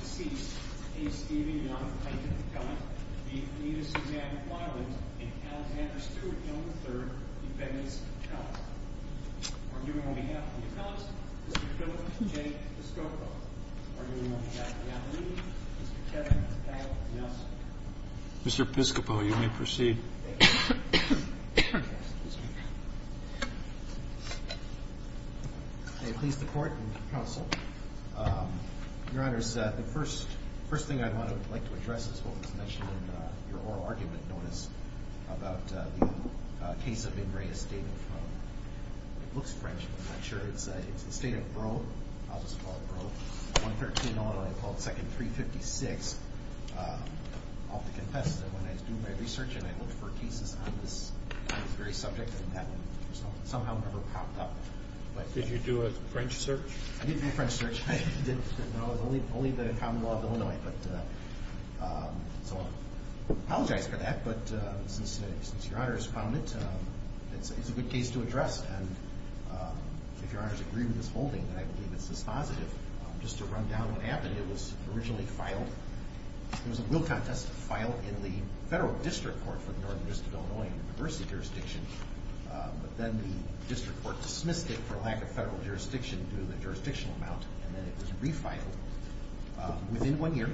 decease, A. Stephen Young, plaintiff's account, B. Anita Suzanne Wiley, and Alexander Steward Young III, defendants' accounts. Arguing on behalf of the accounts, Mr. Philip J. Piscopo. Arguing on behalf of the attorneys, Mr. Kevin Pat Nelson. Thank you, Mr. Chairman. You may proceed. May it please the court and counsel. Your Honor, the first thing I'd like to address is what was mentioned in your oral argument notice about the case of Ingray Estate. It looks French, but I'm not sure. It's the estate of Roe. I'll just call it Roe. 113 in Illinois, I'll call it 356. I'll have to confess that when I was doing my research and I looked for a thesis on this very subject, that somehow never popped up. Did you do a French search? I did do a French search. It was only the common law of Illinois. So I apologize for that, but since Your Honor has found it, it's a good case to address. And if Your Honor's agree with this holding, then I believe it's dispositive. Just to run down what happened, it was originally filed. It was a will contest filed in the federal district court for the Northern District of Illinois in the diversity jurisdiction. But then the district court dismissed it for lack of federal jurisdiction due to the jurisdictional amount. And then it was refiled within one year,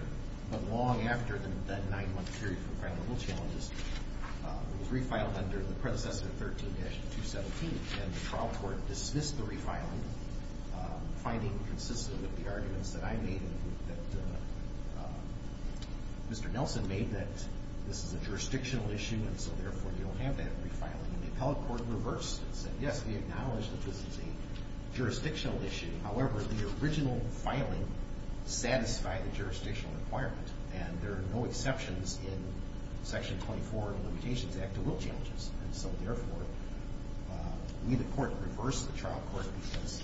but long after that nine-month period for filing the will challenges. It was refiled under the predecessor 13-217, and the trial court dismissed the refiling, finding consistent with the arguments that I made and that Mr. Nelson made, that this is a jurisdictional issue and so therefore you don't have that refiling. And the appellate court reversed it and said, yes, we acknowledge that this is a jurisdictional issue. However, the original filing satisfied the jurisdictional requirement, and there are no exceptions in Section 24 of the Limitations Act to will challenges. And so therefore, we the court reversed the trial court because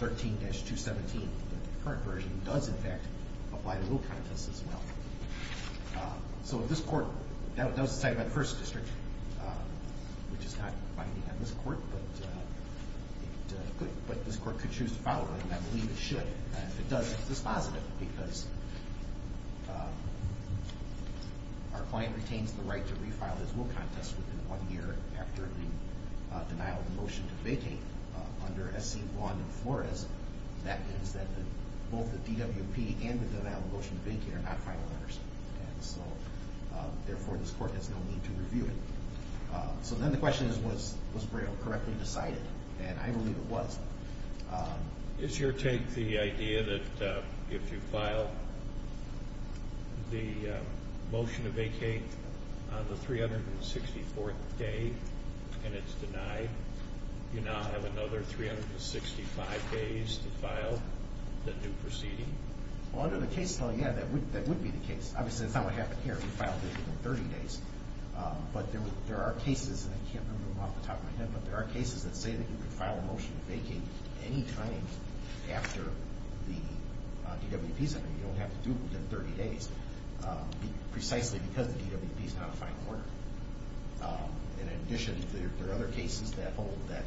13-217, the current version, does in fact apply to will contests as well. So this court, that was decided by the first district, which is not binding on this court, but this court could choose to file it, and I believe it should. And if it doesn't, it's positive because our client retains the right to refile his will contest within one year after the denial of motion to vacate under SC 1-4. That means that both the DWP and the denial of motion to vacate are not final letters. And so therefore, this court has no need to review it. So then the question is, was Braille correctly decided? And I believe it was. Is your take the idea that if you file the motion to vacate on the 364th day and it's denied, you now have another 365 days to file the new proceeding? Well, under the case law, yeah, that would be the case. Obviously, that's not what happened here. We filed it within 30 days. But there are cases, and I can't remember them off the top of my head, but there are cases that say that you can file a motion to vacate any time after the DWP is in it. You don't have to do it within 30 days, precisely because the DWP is not a fine order. And in addition, there are other cases that hold that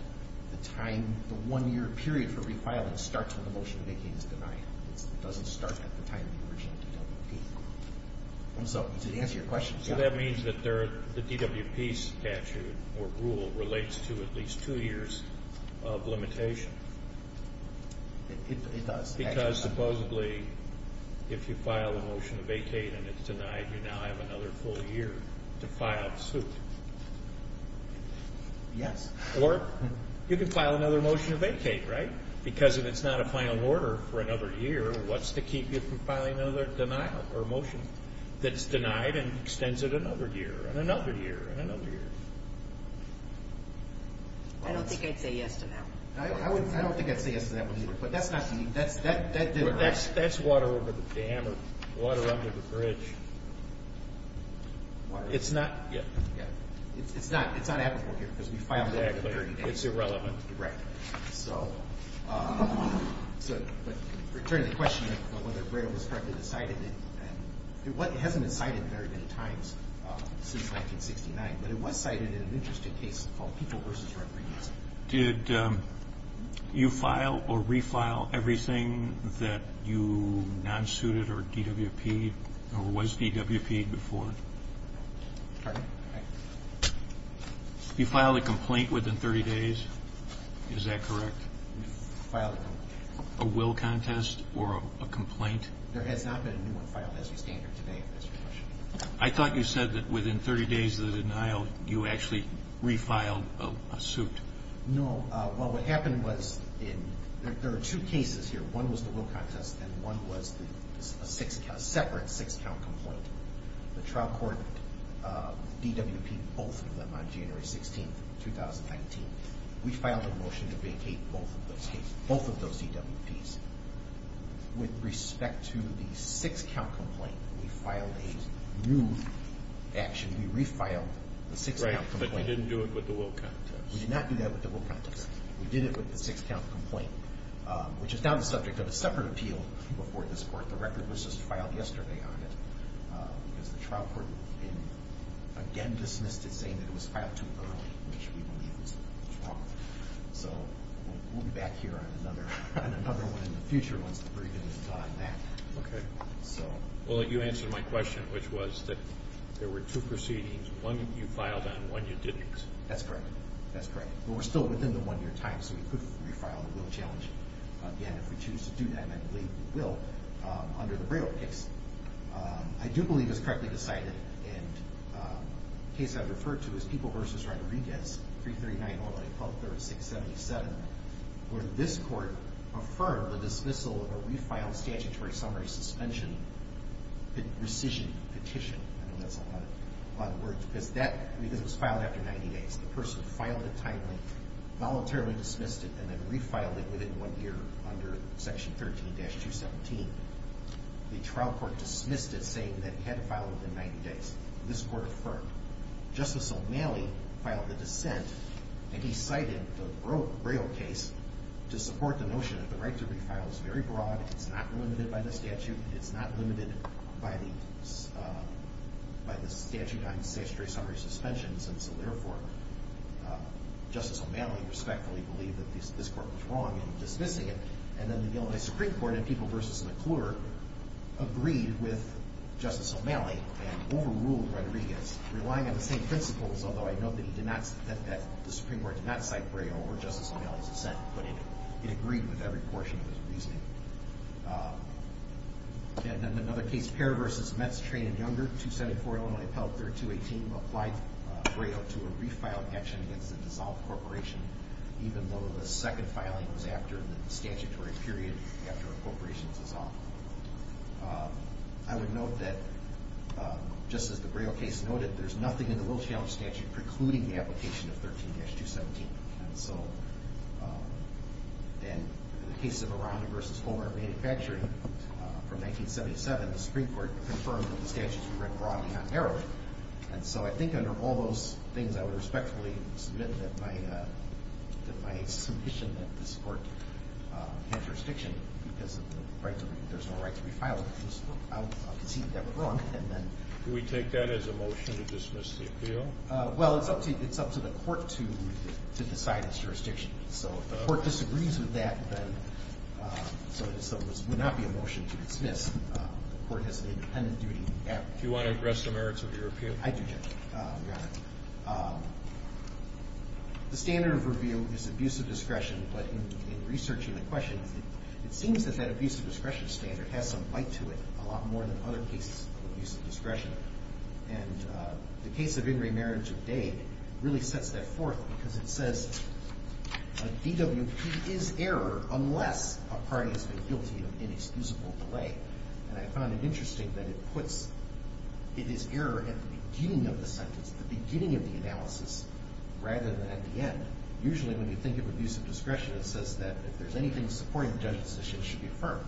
the time, the one-year period for refiling starts when the motion to vacate is denied. It doesn't start at the time of the original DWP. So to answer your question, yeah. So that means that the DWP statute or rule relates to at least two years of limitation. It does. Because supposedly if you file a motion to vacate and it's denied, you now have another full year to file suit. Yes. Or you can file another motion to vacate, right? Because if it's not a fine order for another year, what's to keep you from filing another denial or motion that's denied and extends it another year and another year and another year? I don't think I'd say yes to that one. I don't think I'd say yes to that one either. But that's not unique. That's water over the dam or water under the bridge. It's not applicable here because we filed it within 30 days. Exactly. It's irrelevant. Right. So to return to the question of whether GRAIL was correctly decided, it hasn't been cited very many times since 1969, but it was cited in an interesting case called People v. Refugees. Did you file or refile everything that you non-suited or DWPed or was DWPed before? Pardon? You filed a complaint within 30 days, is that correct? We filed a complaint. A will contest or a complaint? There has not been a new one filed as of standard today, Mr. Trush. I thought you said that within 30 days of the denial you actually refiled a suit. No. Well, what happened was there are two cases here. One was the will contest and one was a separate six-count complaint. The trial court DWPed both of them on January 16th, 2019. We filed a motion to vacate both of those DWPs. With respect to the six-count complaint, we filed a new action. We refiled the six-count complaint. Right, but didn't do it with the will contest. We did not do that with the will contest. We did it with the six-count complaint, which is now the subject of a separate appeal before this court. But the record was just filed yesterday on it because the trial court again dismissed it saying that it was filed too early, which we believe is wrong. So we'll be back here on another one in the future once the briefing is done on that. Okay. Well, you answered my question, which was that there were two proceedings. One you filed and one you didn't. That's correct. That's correct. But we're still within the one-year time, so we could refile the will challenge again. If we choose to do that, I believe we will under the Braille case. I do believe it was correctly decided, and the case I've referred to is People v. Rodriguez, 339-111-1236-77, where this court affirmed the dismissal of a refiled statutory summary suspension petition. I know that's a lot of words. Because it was filed after 90 days. The person filed it timely, voluntarily dismissed it, and then refiled it within one year under Section 13-217. The trial court dismissed it saying that it had to be filed within 90 days. This court affirmed. Justice O'Malley filed the dissent, and he cited the Braille case to support the notion that the right to refile is very broad, it's not limited by the statute, it's not limited by the statute on statutory summary suspensions, and so therefore Justice O'Malley respectfully believed that this court was wrong in dismissing it, and then the Illinois Supreme Court in People v. McClure agreed with Justice O'Malley and overruled Rodriguez, relying on the same principles, although I note that the Supreme Court did not cite Braille or Justice O'Malley's dissent, but it agreed with every portion of his reasoning. And in another case, Pair v. Metz, Train and Younger, 274 Illinois Appellate 3218, applied Braille to a refiled action against a dissolved corporation, even though the second filing was after the statutory period after a corporation was dissolved. I would note that, just as the Braille case noted, there's nothing in the Will Challenge statute precluding the application of 13-217, and so in the case of Aranda v. Homer Manufacturing from 1977, the Supreme Court confirmed that the statutes were read broadly, not narrowly, and so I think under all those things I would respectfully submit that my submission that this court had jurisdiction because there's no right to refile it. I'll concede that we're wrong. Do we take that as a motion to dismiss the appeal? Well, it's up to the court to decide its jurisdiction. So if the court disagrees with that, then it would not be a motion to dismiss. The court has an independent duty. Do you want to address the merits of the appeal? I do, Judge, Your Honor. The standard of review is abuse of discretion, but in researching the question, it seems that that abuse of discretion standard has some bite to it, a lot more than other cases of abuse of discretion, and the case of Ingray Marriage of Dade really sets that forth because it says a DWP is error unless a party has been guilty of inexcusable delay, and I found it interesting that it puts it is error at the beginning of the sentence, the beginning of the analysis rather than at the end. Usually when you think of abuse of discretion, it says that if there's anything supporting the judge's decision, it should be affirmed,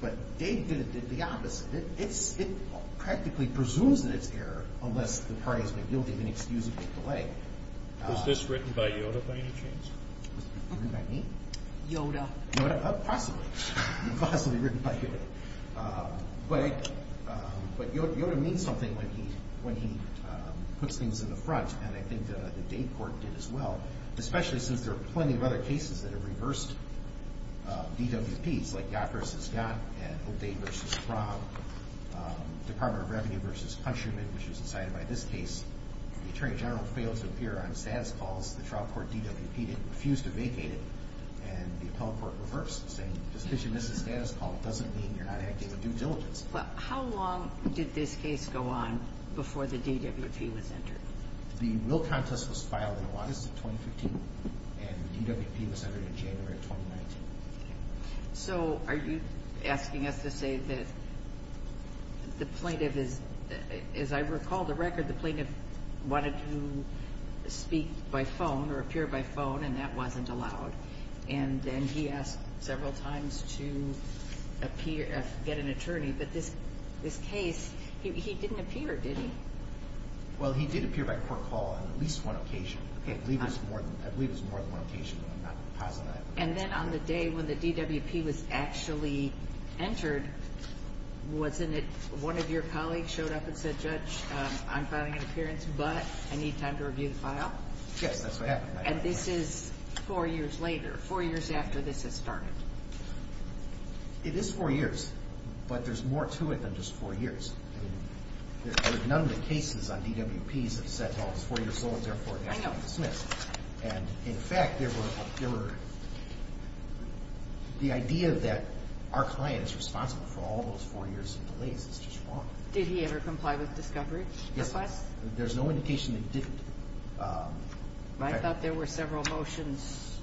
but Dade did the opposite. It practically presumes that it's error unless the party has been guilty of inexcusable delay. Was this written by Yoda by any chance? Written by me? Yoda. Possibly. Possibly written by Yoda. But Yoda means something when he puts things in the front, and I think that the Dade court did as well, especially since there are plenty of other cases that have reversed DWPs, like Yacht v. Yacht and O'Day v. Frog, Department of Revenue v. Countryman, which was decided by this case. The Attorney General failed to appear on status calls. The trial court DWP refused to vacate it, and the appellate court reversed, saying just because you missed a status call doesn't mean you're not acting with due diligence. How long did this case go on before the DWP was entered? The real contest was filed in August of 2015, and the DWP was entered in January of 2019. So are you asking us to say that the plaintiff is, as I recall the record, the plaintiff wanted to speak by phone or appear by phone, and that wasn't allowed, and then he asked several times to get an attorney. But this case, he didn't appear, did he? Well, he did appear by court call on at least one occasion. I believe it was more than one occasion, but I'm not going to posit that. And then on the day when the DWP was actually entered, wasn't it one of your colleagues showed up and said, Judge, I'm filing an appearance, but I need time to review the file? Yes, that's what happened. And this is four years later, four years after this has started. It is four years, but there's more to it than just four years. None of the cases on DWPs have said, well, it was four years old, therefore it has to be dismissed. And in fact, the idea that our client is responsible for all those four years of delays is just wrong. Did he ever comply with discovery requests? Yes, there's no indication that he didn't. I thought there were several motions,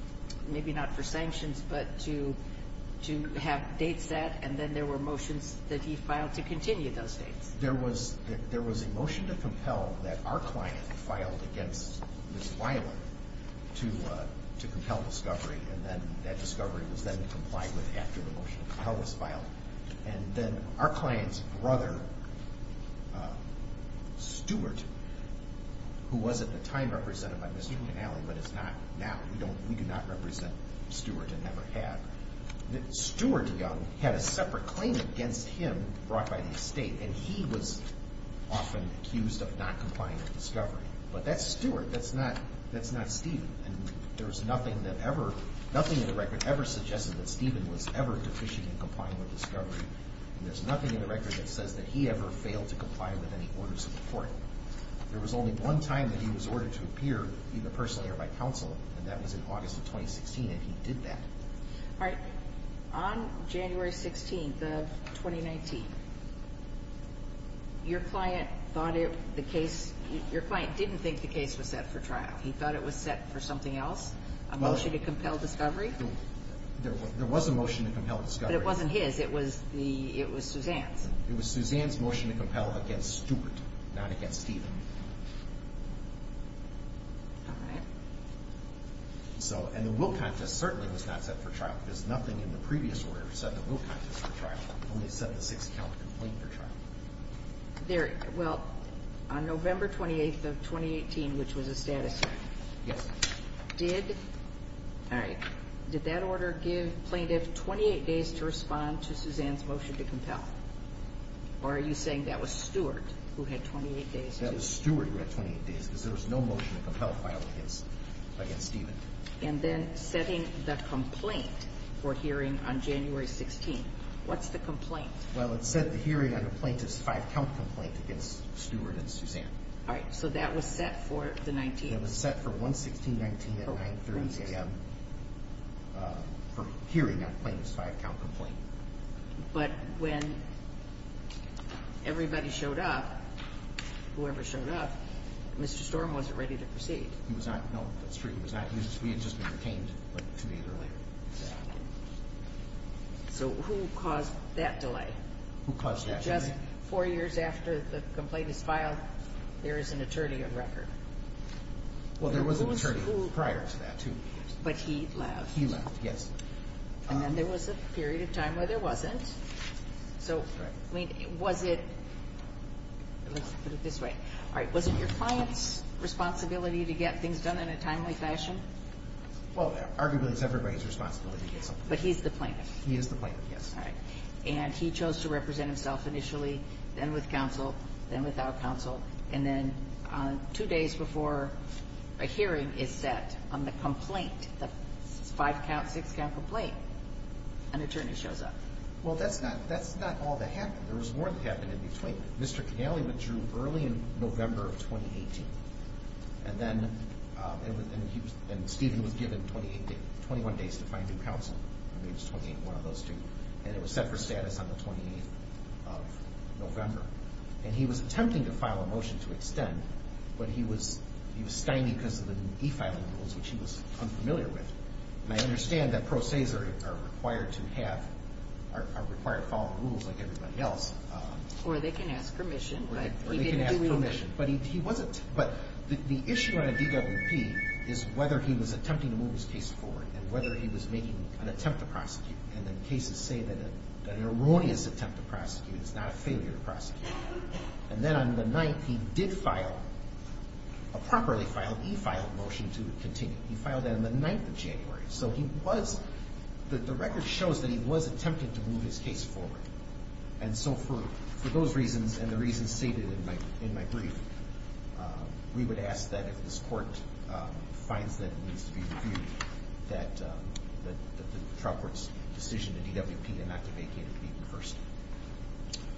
maybe not for sanctions, but to have dates set, and then there were motions that he filed to continue those dates. There was a motion to compel that our client filed against Ms. Wiley to compel discovery, and then that discovery was then complied with after the motion to compel was filed. And then our client's brother, Stuart, who was at the time represented by Ms. Truman-Alley, but is not now. We do not represent Stuart and never have. Stuart Young had a separate claim against him brought by the estate, and he was often accused of not complying with discovery. But that's Stuart. That's not Stephen. And there's nothing that ever, nothing in the record ever suggested that Stephen was ever deficient in complying with discovery. And there's nothing in the record that says that he ever failed to comply with any orders of the court. There was only one time that he was ordered to appear, either personally or by counsel, and that was in August of 2016, and he did that. All right. On January 16th of 2019, your client thought it, the case, your client didn't think the case was set for trial. He thought it was set for something else? A motion to compel discovery? There was a motion to compel discovery. But it wasn't his. It was the, it was Suzanne's. It was Suzanne's motion to compel against Stuart, not against Stephen. All right. So, and the will contest certainly was not set for trial. There's nothing in the previous order that said the will contest was for trial. It only said the six-count complaint for trial. There, well, on November 28th of 2018, which was a status hearing. Yes. Did, all right, did that order give plaintiff 28 days to respond to Suzanne's motion to compel? Or are you saying that was Stuart who had 28 days to? That was Stuart who had 28 days, because there was no motion to compel filed against Stephen. And then setting the complaint for hearing on January 16th. What's the complaint? Well, it said the hearing on the plaintiff's five-count complaint against Stuart and Suzanne. All right. So that was set for the 19th? That was set for 116.19 at 930 a.m. For hearing on the plaintiff's five-count complaint. But when everybody showed up, whoever showed up, Mr. Storm wasn't ready to proceed. He was not. No, that's true. He was not. He had just been retained to meet earlier. So who caused that delay? Who caused that delay? Just four years after the complaint is filed, there is an attorney of record. Well, there was an attorney prior to that, too. But he left. He left, yes. And then there was a period of time where there wasn't. So, I mean, was it, let's put it this way, all right, was it your client's responsibility to get things done in a timely fashion? Well, arguably it's everybody's responsibility to get something done. But he's the plaintiff. He is the plaintiff, yes. All right. And he chose to represent himself initially, then with counsel, then without counsel, and then two days before a hearing is set on the complaint, the five-count, six-count complaint, an attorney shows up. Well, that's not all that happened. There was more that happened in between. Mr. Canale withdrew early in November of 2018. And then Stephen was given 21 days to find new counsel. I mean, it was one of those two. And it was set for status on the 28th of November. And he was attempting to file a motion to extend, but he was stymied because of the defiling rules, which he was unfamiliar with. And I understand that pro ses are required to have, are required to follow rules like everybody else. Or they can ask permission. Or they can ask permission. But he wasn't. But the issue on a DWP is whether he was attempting to move his case forward and whether he was making an attempt to prosecute. And the cases say that an erroneous attempt to prosecute is not a failure to prosecute. And then on the 9th, he did file a properly filed, e-filed motion to continue. He filed that on the 9th of January. So he was, the record shows that he was attempting to move his case forward. And so for those reasons and the reasons stated in my brief, we would ask that if this court finds that it needs to be reviewed, that the trial court's decision to DWP and not to vacate it be reversed.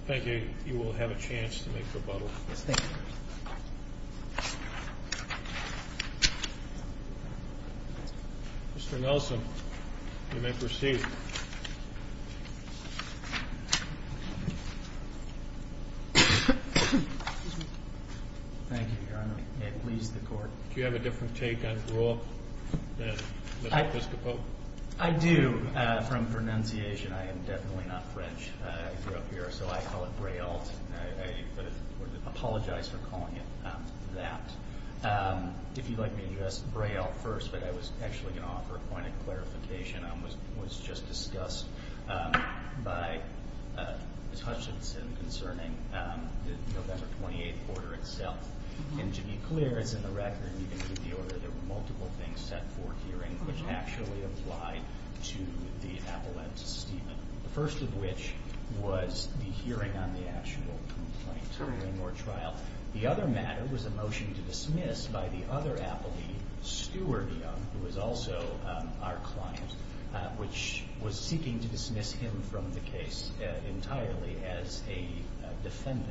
Thank you. You will have a chance to make rebuttal. Yes, thank you. Mr. Nelson, you may proceed. Thank you, Your Honor. May it please the Court. Do you have a different take on the rule than Mr. Piscopo? I do. From pronunciation. I am definitely not French. I grew up here, so I call it Braille. I apologize for calling it that. If you'd like me to address Braille first, but I was actually going to offer a point of clarification. It was just discussed by Ms. Hutchinson concerning the November 28th order itself. And to be clear, it's in the record. You can keep the order. There were multiple things set for hearing, which actually applied to the appellate statement, the first of which was the hearing on the actual complaint or trial. The other matter was a motion to dismiss by the other appellee, Stuart Young, who was also our client, which was seeking to dismiss him from the case entirely as a defendant.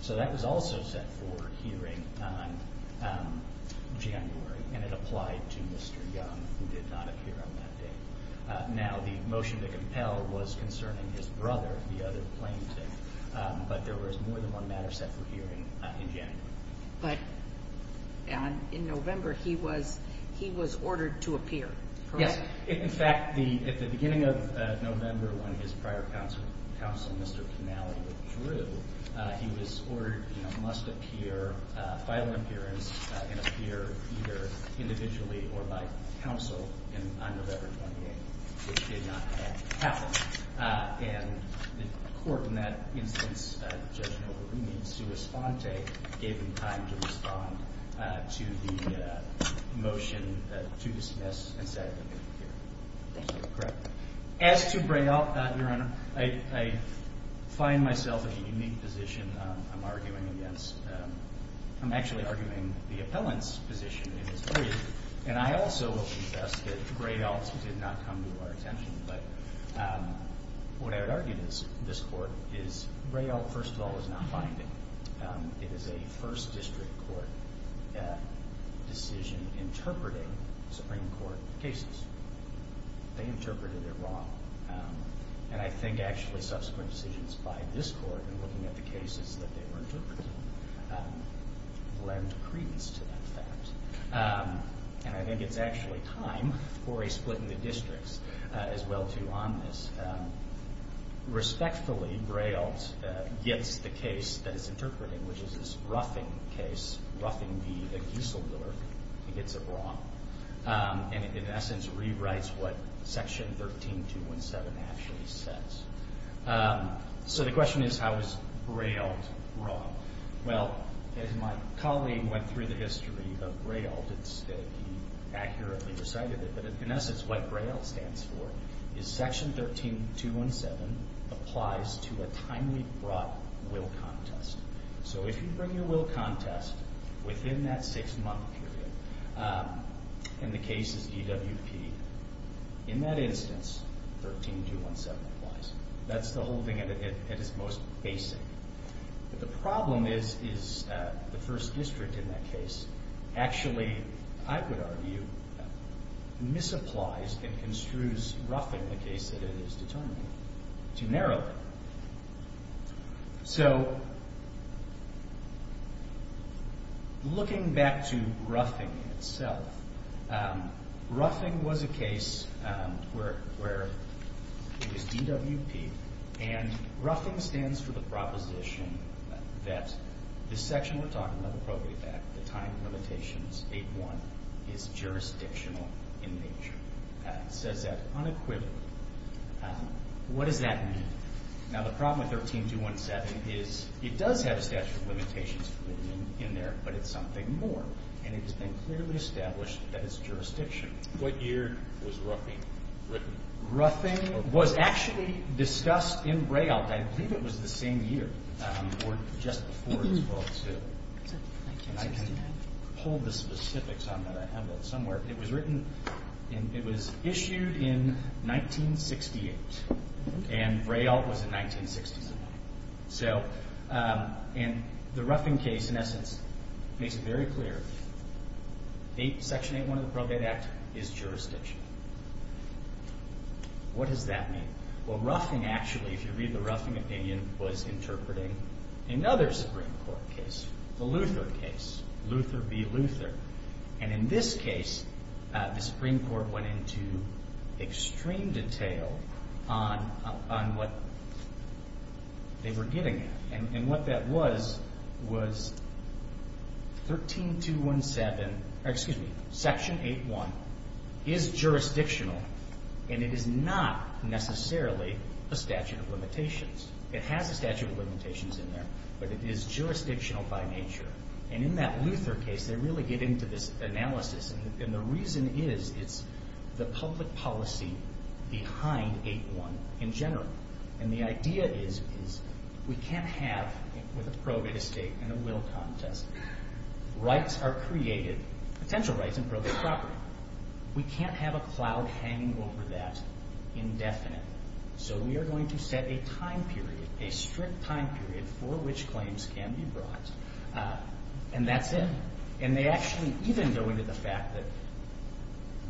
So that was also set for hearing on January, and it applied to Mr. Young, who did not appear on that day. Now, the motion to compel was concerning his brother, the other plaintiff, but there was more than one matter set for hearing in January. But in November, he was ordered to appear, correct? Yes. In fact, at the beginning of November, when his prior counsel, Mr. Canale, withdrew, he was ordered, you know, must appear, file an appearance, and appear either individually or by counsel on November 28th, which did not happen. And the court in that instance, Judge Novogruen, in sua sponte, gave him time to respond to the motion to dismiss and said that he would appear. Correct. As to Braille, Your Honor, I find myself in a unique position. I'm arguing against the appellant's position in this case, and I also will confess that Braille did not come to our attention. But what I would argue in this court is Braille, first of all, is not binding. It is a first district court decision interpreting Supreme Court cases. They interpreted it wrong. And I think actually subsequent decisions by this court in looking at the cases that they were interpreting lend credence to that fact. And I think it's actually time for a split in the districts as well, too, on this. Respectfully, Braille gets the case that it's interpreting, which is this Ruffing case, Ruffing v. Gieseldorf. It gets it wrong. And it, in essence, rewrites what Section 13217 actually says. So the question is, how is Braille wrong? Well, as my colleague went through the history of Braille, he accurately recited it, but in essence what Braille stands for is Section 13217 applies to a timely brought will contest. So if you bring your will contest within that six-month period and the case is DWP, in that instance 13217 applies. That's the holding it is most basic. But the problem is the first district in that case actually, I would argue, misapplies and construes Ruffing, the case that it is determining, too narrowly. So looking back to Ruffing itself, Ruffing was a case where it was DWP, and Ruffing stands for the proposition that this section we're talking about, the probate act, the time limitations, 8-1, is jurisdictional in nature. It says that unequivocally. What does that mean? Now the problem with 13217 is it does have a statute of limitations in there, but it's something more, and it has been clearly established that it's jurisdictional. What year was Ruffing written? Ruffing was actually discussed in Braille, I believe it was the same year, or just before it was brought to, and I can hold the specifics on that. It was issued in 1968, and Braille was in 1967. And the Ruffing case, in essence, makes it very clear. Section 8-1 of the probate act is jurisdictional. What does that mean? Well, Ruffing actually, if you read the Ruffing opinion, was interpreting another Supreme Court case, the Luther case, Luther v. Luther. And in this case, the Supreme Court went into extreme detail on what they were getting at. And what that was was 13217, or excuse me, Section 8-1 is jurisdictional, and it is not necessarily a statute of limitations. It has a statute of limitations in there, but it is jurisdictional by nature. And in that Luther case, they really get into this analysis, and the reason is it's the public policy behind 8-1 in general. And the idea is we can't have, with a probate estate and a will contest, rights are created, potential rights in probate property. We can't have a cloud hanging over that indefinitely. So we are going to set a time period, a strict time period, for which claims can be brought. And that's it. And they actually even go into the fact that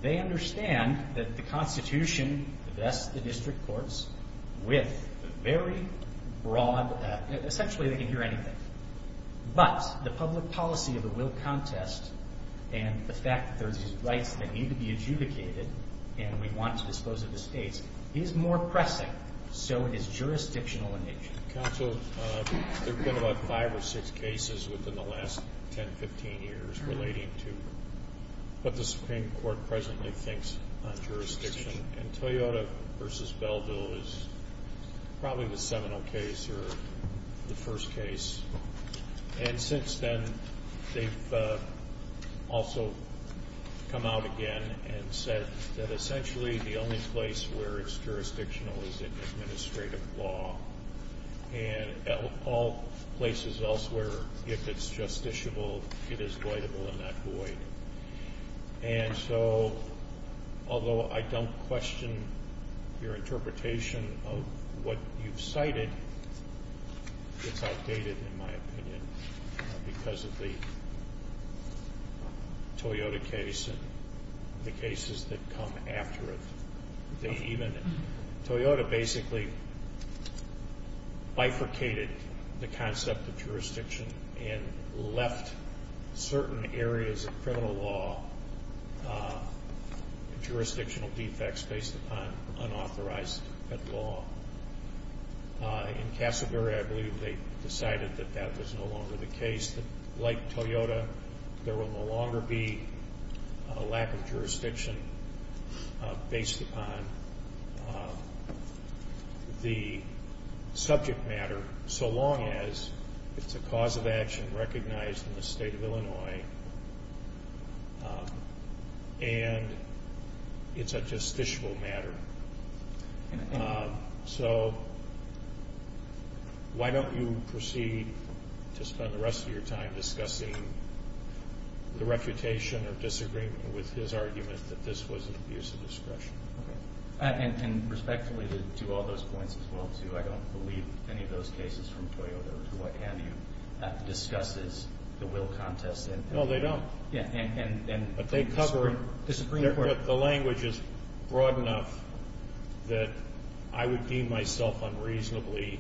they understand that the Constitution, thus the district courts, with very broad, essentially they can hear anything. But the public policy of the will contest and the fact that there are these rights that need to be adjudicated and we want to dispose of the states is more pressing, so it is jurisdictional in nature. Counsel, there have been about five or six cases within the last 10, 15 years relating to what the Supreme Court presently thinks on jurisdiction. And Toyota v. Belleville is probably the seminal case or the first case. And since then, they've also come out again and said that essentially the only place where it's jurisdictional is in administrative law. And all places elsewhere, if it's justiciable, it is voidable in that void. And so although I don't question your interpretation of what you've cited, it's outdated in my opinion because of the Toyota case and the cases that come after it. Toyota basically bifurcated the concept of jurisdiction and left certain areas of criminal law jurisdictional defects based upon unauthorized law. In Casselberry, I believe they decided that that was no longer the case, that like Toyota, there will no longer be a lack of jurisdiction based upon the subject matter so long as it's a cause of action recognized in the state of Illinois and it's a justiciable matter. So why don't you proceed to spend the rest of your time discussing the reputation or disagreement with his argument that this was an abuse of discretion? And respectfully to all those points as well, too, I don't believe any of those cases from Toyota or to what have you discusses the will contest. No, they don't. But they cover it. The language is broad enough that I would deem myself unreasonably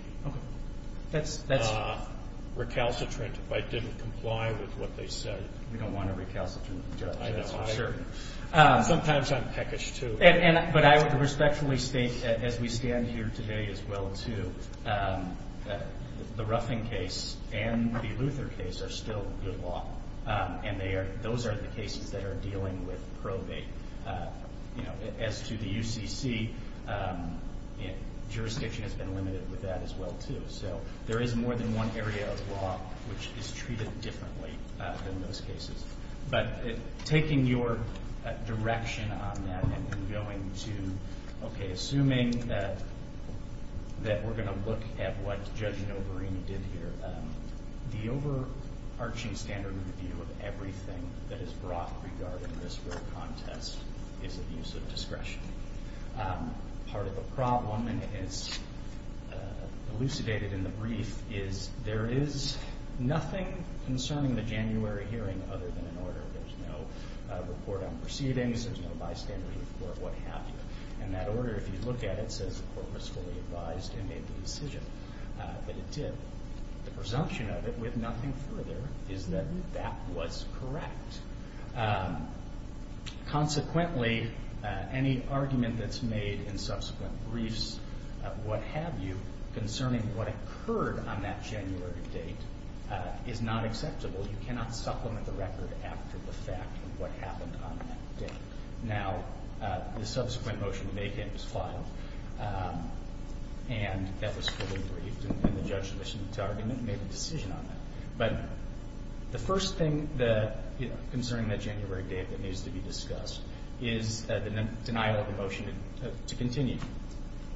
recalcitrant if I didn't comply with what they said. We don't want a recalcitrant judge, that's for sure. Sometimes I'm peckish, too. But I would respectfully state as we stand here today as well, too, the Ruffing case and the Luther case are still good law, and those are the cases that are dealing with probate. As to the UCC, jurisdiction has been limited with that as well, too. So there is more than one area of law which is treated differently than most cases. But taking your direction on that and going to, okay, assuming that we're going to look at what Judge Noverini did here, the overarching standard review of everything that is brought regarding this will contest is abuse of discretion. Part of the problem, and it's elucidated in the brief, is there is nothing concerning the January hearing other than an order. There's no report on proceedings. There's no bystander report, what have you. And that order, if you look at it, says the court was fully advised and made the decision that it did. The presumption of it, with nothing further, is that that was correct. Consequently, any argument that's made in subsequent briefs, what have you, concerning what occurred on that January date is not acceptable. You cannot supplement the record after the fact of what happened on that date. Now, the subsequent motion to make it was filed, and that was fully briefed, and the judge's mission to argument made a decision on that. But the first thing concerning that January date that needs to be discussed is the denial of the motion to continue.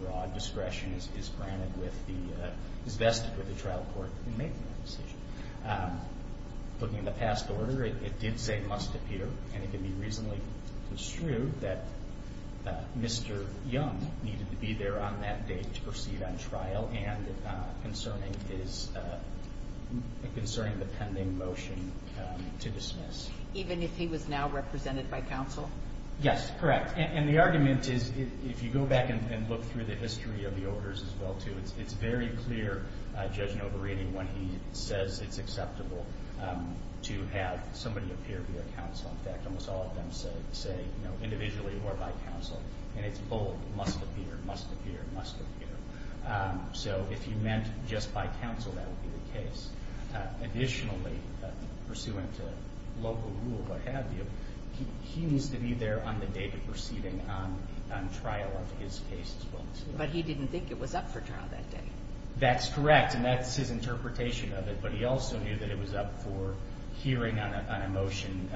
Broad discretion is granted with the – is vested with the trial court in making that decision. Looking at the past order, it did say must appear, and it can be reasonably construed that Mr. Young needed to be there on that date to proceed on trial and concerning his – concerning the pending motion to dismiss. Even if he was now represented by counsel? Yes, correct. And the argument is, if you go back and look through the history of the orders as well, too, it's very clear Judge Novarini, when he says it's acceptable to have somebody appear via counsel. In fact, almost all of them say individually or by counsel, and it's bold, must appear, must appear, must appear. So if he meant just by counsel, that would be the case. Additionally, pursuant to local rule, what have you, he needs to be there on the date of proceeding on trial of his case as well. But he didn't think it was up for trial that day. That's correct, and that's his interpretation of it. But he also knew that it was up for hearing on a motion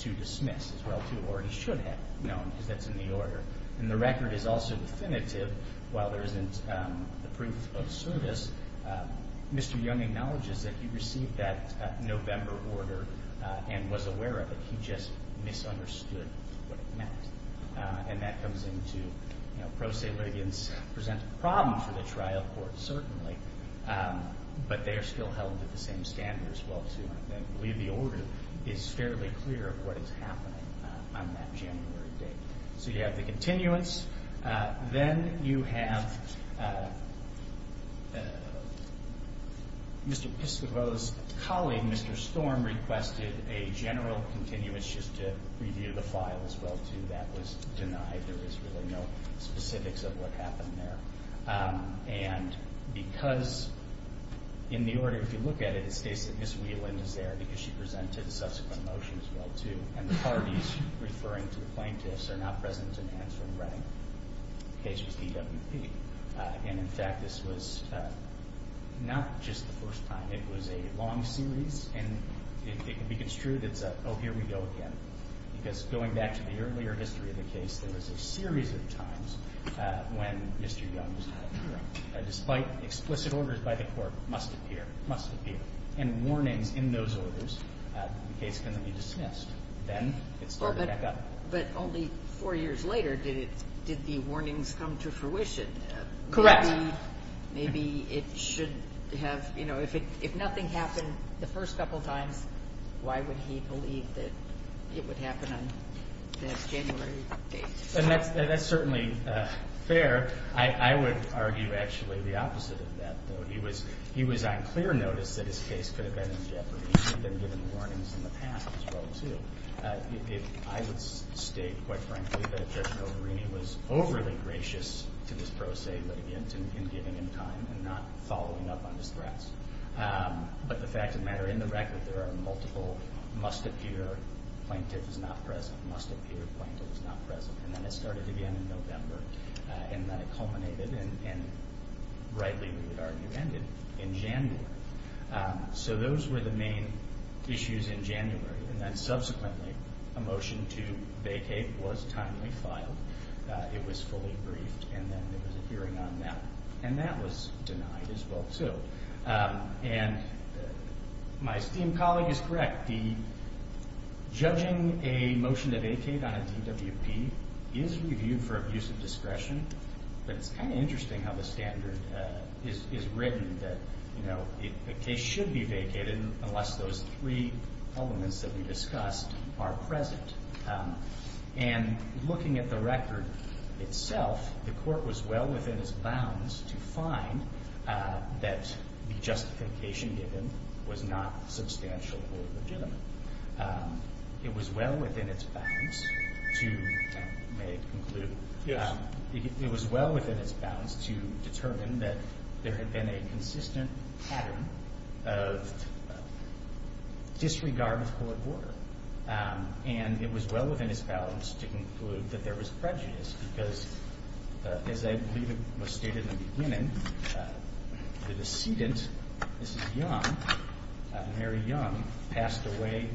to dismiss as well, too, or he should have known because that's in the order. And the record is also definitive. While there isn't the proof of service, Mr. Young acknowledges that he received that November order and was aware of it. He just misunderstood what it meant. And that comes into, you know, pro se litigants present a problem for the trial court, certainly, but they're still held at the same standard as well, too. And I believe the order is fairly clear of what is happening on that January date. So you have the continuance. Then you have Mr. Piscopo's colleague, Mr. Storm, requested a general continuance just to review the file as well, too. That was denied. There was really no specifics of what happened there. And because in the order, if you look at it, it states that Ms. Wieland is there because she presented a subsequent motion as well, too, and the parties referring to the plaintiffs are not present in answering Reading. The case was DWP. And, in fact, this was not just the first time. It was a long series. And it can be construed as a, oh, here we go again, because going back to the earlier history of the case, there was a series of times when Mr. Young was not appearing. Despite explicit orders by the court, must appear, must appear, and warnings in those orders, the case can then be dismissed. Then it started back up. But only four years later did the warnings come to fruition. Correct. Maybe it should have, you know, if nothing happened the first couple times, why would he believe that it would happen on that January date? That's certainly fair. I would argue actually the opposite of that, though. He was on clear notice that his case could have been in jeopardy. He had been given warnings in the past as well, too. I would state, quite frankly, that Judge Noverini was overly gracious to this pro se litigant in giving him time and not following up on his threats. But the fact of the matter, in the record, there are multiple must appear, plaintiff is not present, must appear, plaintiff is not present. And then it started again in November. And then it culminated, and rightly we would argue ended, in January. So those were the main issues in January. And then subsequently a motion to vacate was timely filed. It was fully briefed, and then there was a hearing on that. And that was denied as well, too. And my esteemed colleague is correct. In fact, judging a motion to vacate on a DWP is reviewed for abuse of discretion. But it's kind of interesting how the standard is written that the case should be vacated unless those three elements that we discussed are present. And looking at the record itself, the court was well within its bounds to find that the justification given was not substantial or legitimate. It was well within its bounds to, may I conclude? Yes. It was well within its bounds to determine that there had been a consistent pattern of disregard of court order. And it was well within its bounds to conclude that there was prejudice because, as I believe it was stated in the beginning, the decedent, Mrs. Young, Mary Young, passed away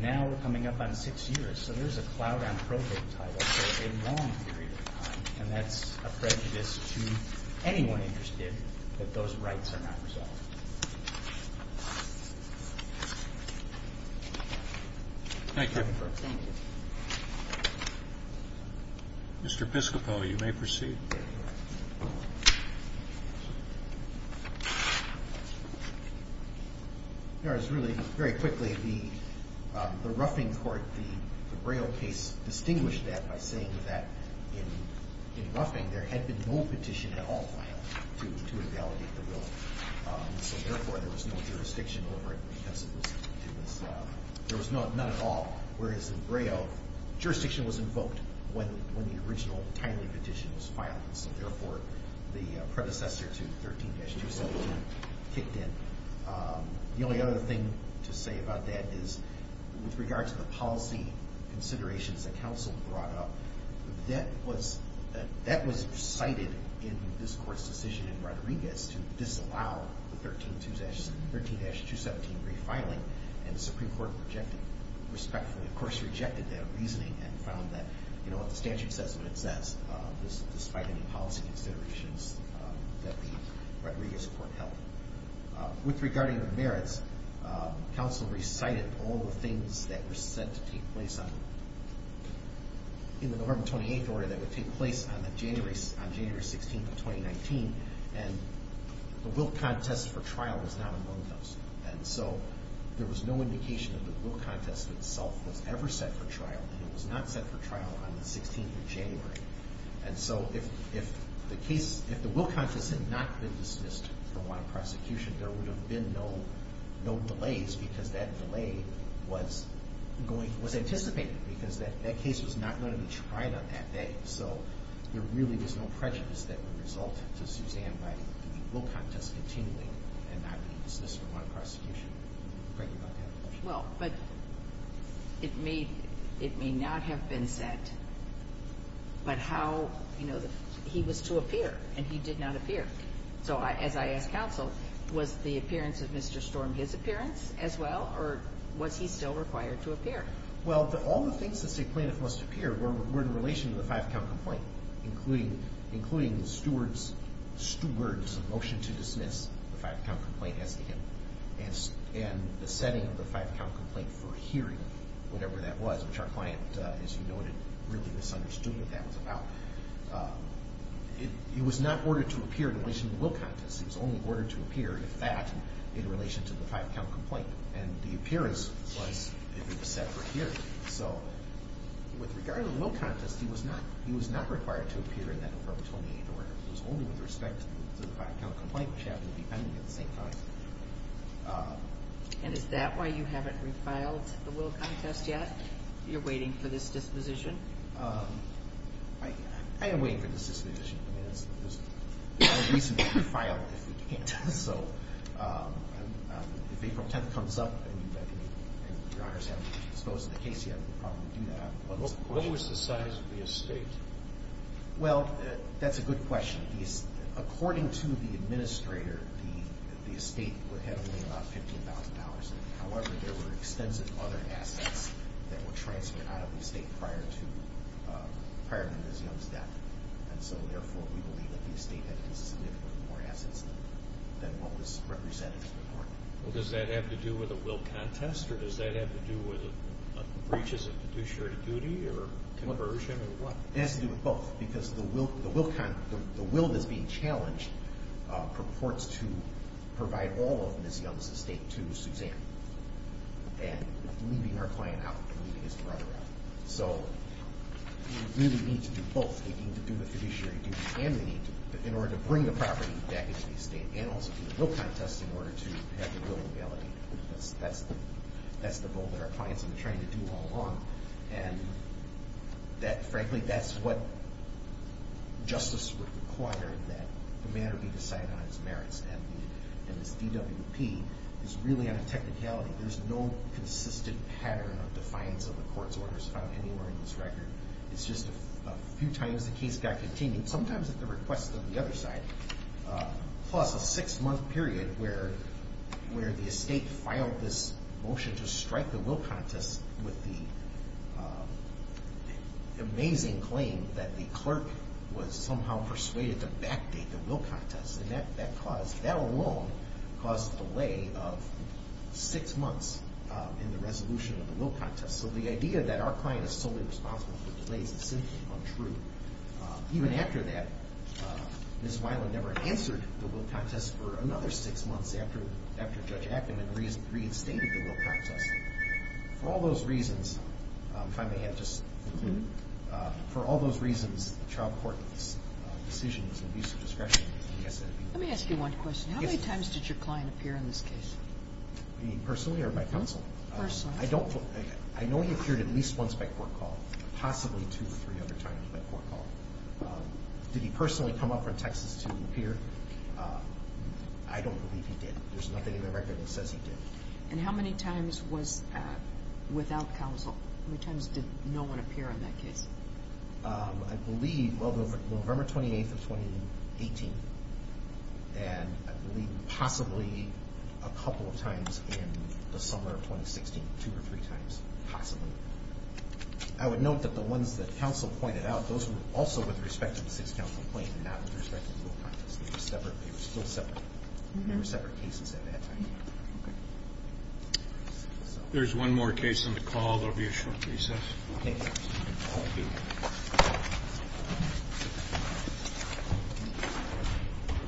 now coming up on six years. So there's a cloud on probate title for a long period of time. And that's a prejudice to anyone interested that those rights are not resolved. Thank you. Thank you. Mr. Piscopo, you may proceed. There is really very quickly the roughing court, the Braille case distinguished that by saying that in roughing there had been no petition at all to invalidate the will. So therefore, there was no jurisdiction over it because it was not at all. Whereas in Braille, jurisdiction was invoked when the original timely petition was filed. So therefore, the predecessor to 13-217 kicked in. The only other thing to say about that is, with regard to the policy considerations that counsel brought up, that was recited in this court's decision in Rodriguez to disallow the 13-217 refiling, and the Supreme Court respectfully, of course, rejected that reasoning and found that, you know, the statute says what it says, despite any policy considerations that the Rodriguez court held. With regard to the merits, counsel recited all the things that were said to take place on them. In the November 28th order, that would take place on January 16th of 2019, and the will contest for trial was not among those. And so there was no indication that the will contest itself was ever set for trial, and it was not set for trial on the 16th of January. And so if the case, if the will contest had not been dismissed for one prosecution, there would have been no delays because that delay was anticipated, because that case was not going to be tried on that day. So there really was no prejudice that would result to Suzanne writing the will contest continually and not being dismissed for one prosecution. Thank you about that. Well, but it may not have been set, but how, you know, he was to appear, and he did not appear. So as I asked counsel, was the appearance of Mr. Storm his appearance as well, or was he still required to appear? Well, all the things that say plaintiff must appear were in relation to the five-count complaint, including the steward's motion to dismiss the five-count complaint as to him and the setting of the five-count complaint for hearing, whatever that was, which our client, as you noted, really misunderstood what that was about. It was not ordered to appear in relation to the will contest. It was only ordered to appear, if that, in relation to the five-count complaint. And the appearance was if it was set for hearing. So with regard to the will contest, he was not required to appear in that affirmatory order. It was only with respect to the five-count complaint, which happened to be pending at the same time. And is that why you haven't refiled the will contest yet? You're waiting for this disposition? I am waiting for this disposition. There's no reason to refile it if we can't. So if April 10th comes up and your honors haven't disposed of the case yet, we'll probably do that. What was the size of the estate? Well, that's a good question. According to the administrator, the estate had only about $15,000. However, there were extensive other assets that were transferred out of the estate prior to Ms. Young's death. And so, therefore, we believe that the estate had a piece of significantly more assets than what was represented in the report. Well, does that have to do with a will contest, or does that have to do with breaches of fiduciary duty or conversion or what? It has to do with both, because the will that's being challenged purports to provide all of Ms. Young's estate to Suzanne, and leaving her client out and leaving his brother out. So we really need to do both. We need to do the fiduciary duty and we need to do in order to bring the property back into the estate and also do the will contest in order to have the will in validity. That's the goal that our clients have been trying to do all along. And frankly, that's what justice required that the matter be decided on its merits. And this DWP is really on a technicality. There's no consistent pattern of defiance of the court's orders found anywhere in this record. It's just a few times the case got continued, sometimes at the request of the other side, plus a six-month period where the estate filed this motion to strike the will contest with the amazing claim that the clerk was somehow persuaded to backdate the will contest. And that alone caused a delay of six months in the resolution of the will contest. So the idea that our client is solely responsible for delays is simply untrue. Even after that, Ms. Weiland never answered the will contest for another six months after Judge Ackman reinstated the will contest. For all those reasons, if I may add just a clue, for all those reasons, the trial court's decision is an abuse of discretion. Let me ask you one question. How many times did your client appear in this case? You mean personally or by counsel? Personally. I know he appeared at least once by court call, possibly two or three other times by court call. Did he personally come up from Texas to appear? I don't believe he did. There's nothing in the record that says he did. And how many times was without counsel? How many times did no one appear in that case? I believe, well, November 28th of 2018, and I believe possibly a couple of times in the summer of 2016, two or three times, possibly. I would note that the ones that counsel pointed out, those were also with respect to the sixth counsel complaint and not with respect to the will contest. They were still separate. They were separate cases at that time. If there's one more case on the call, there will be a short recess. Thank you.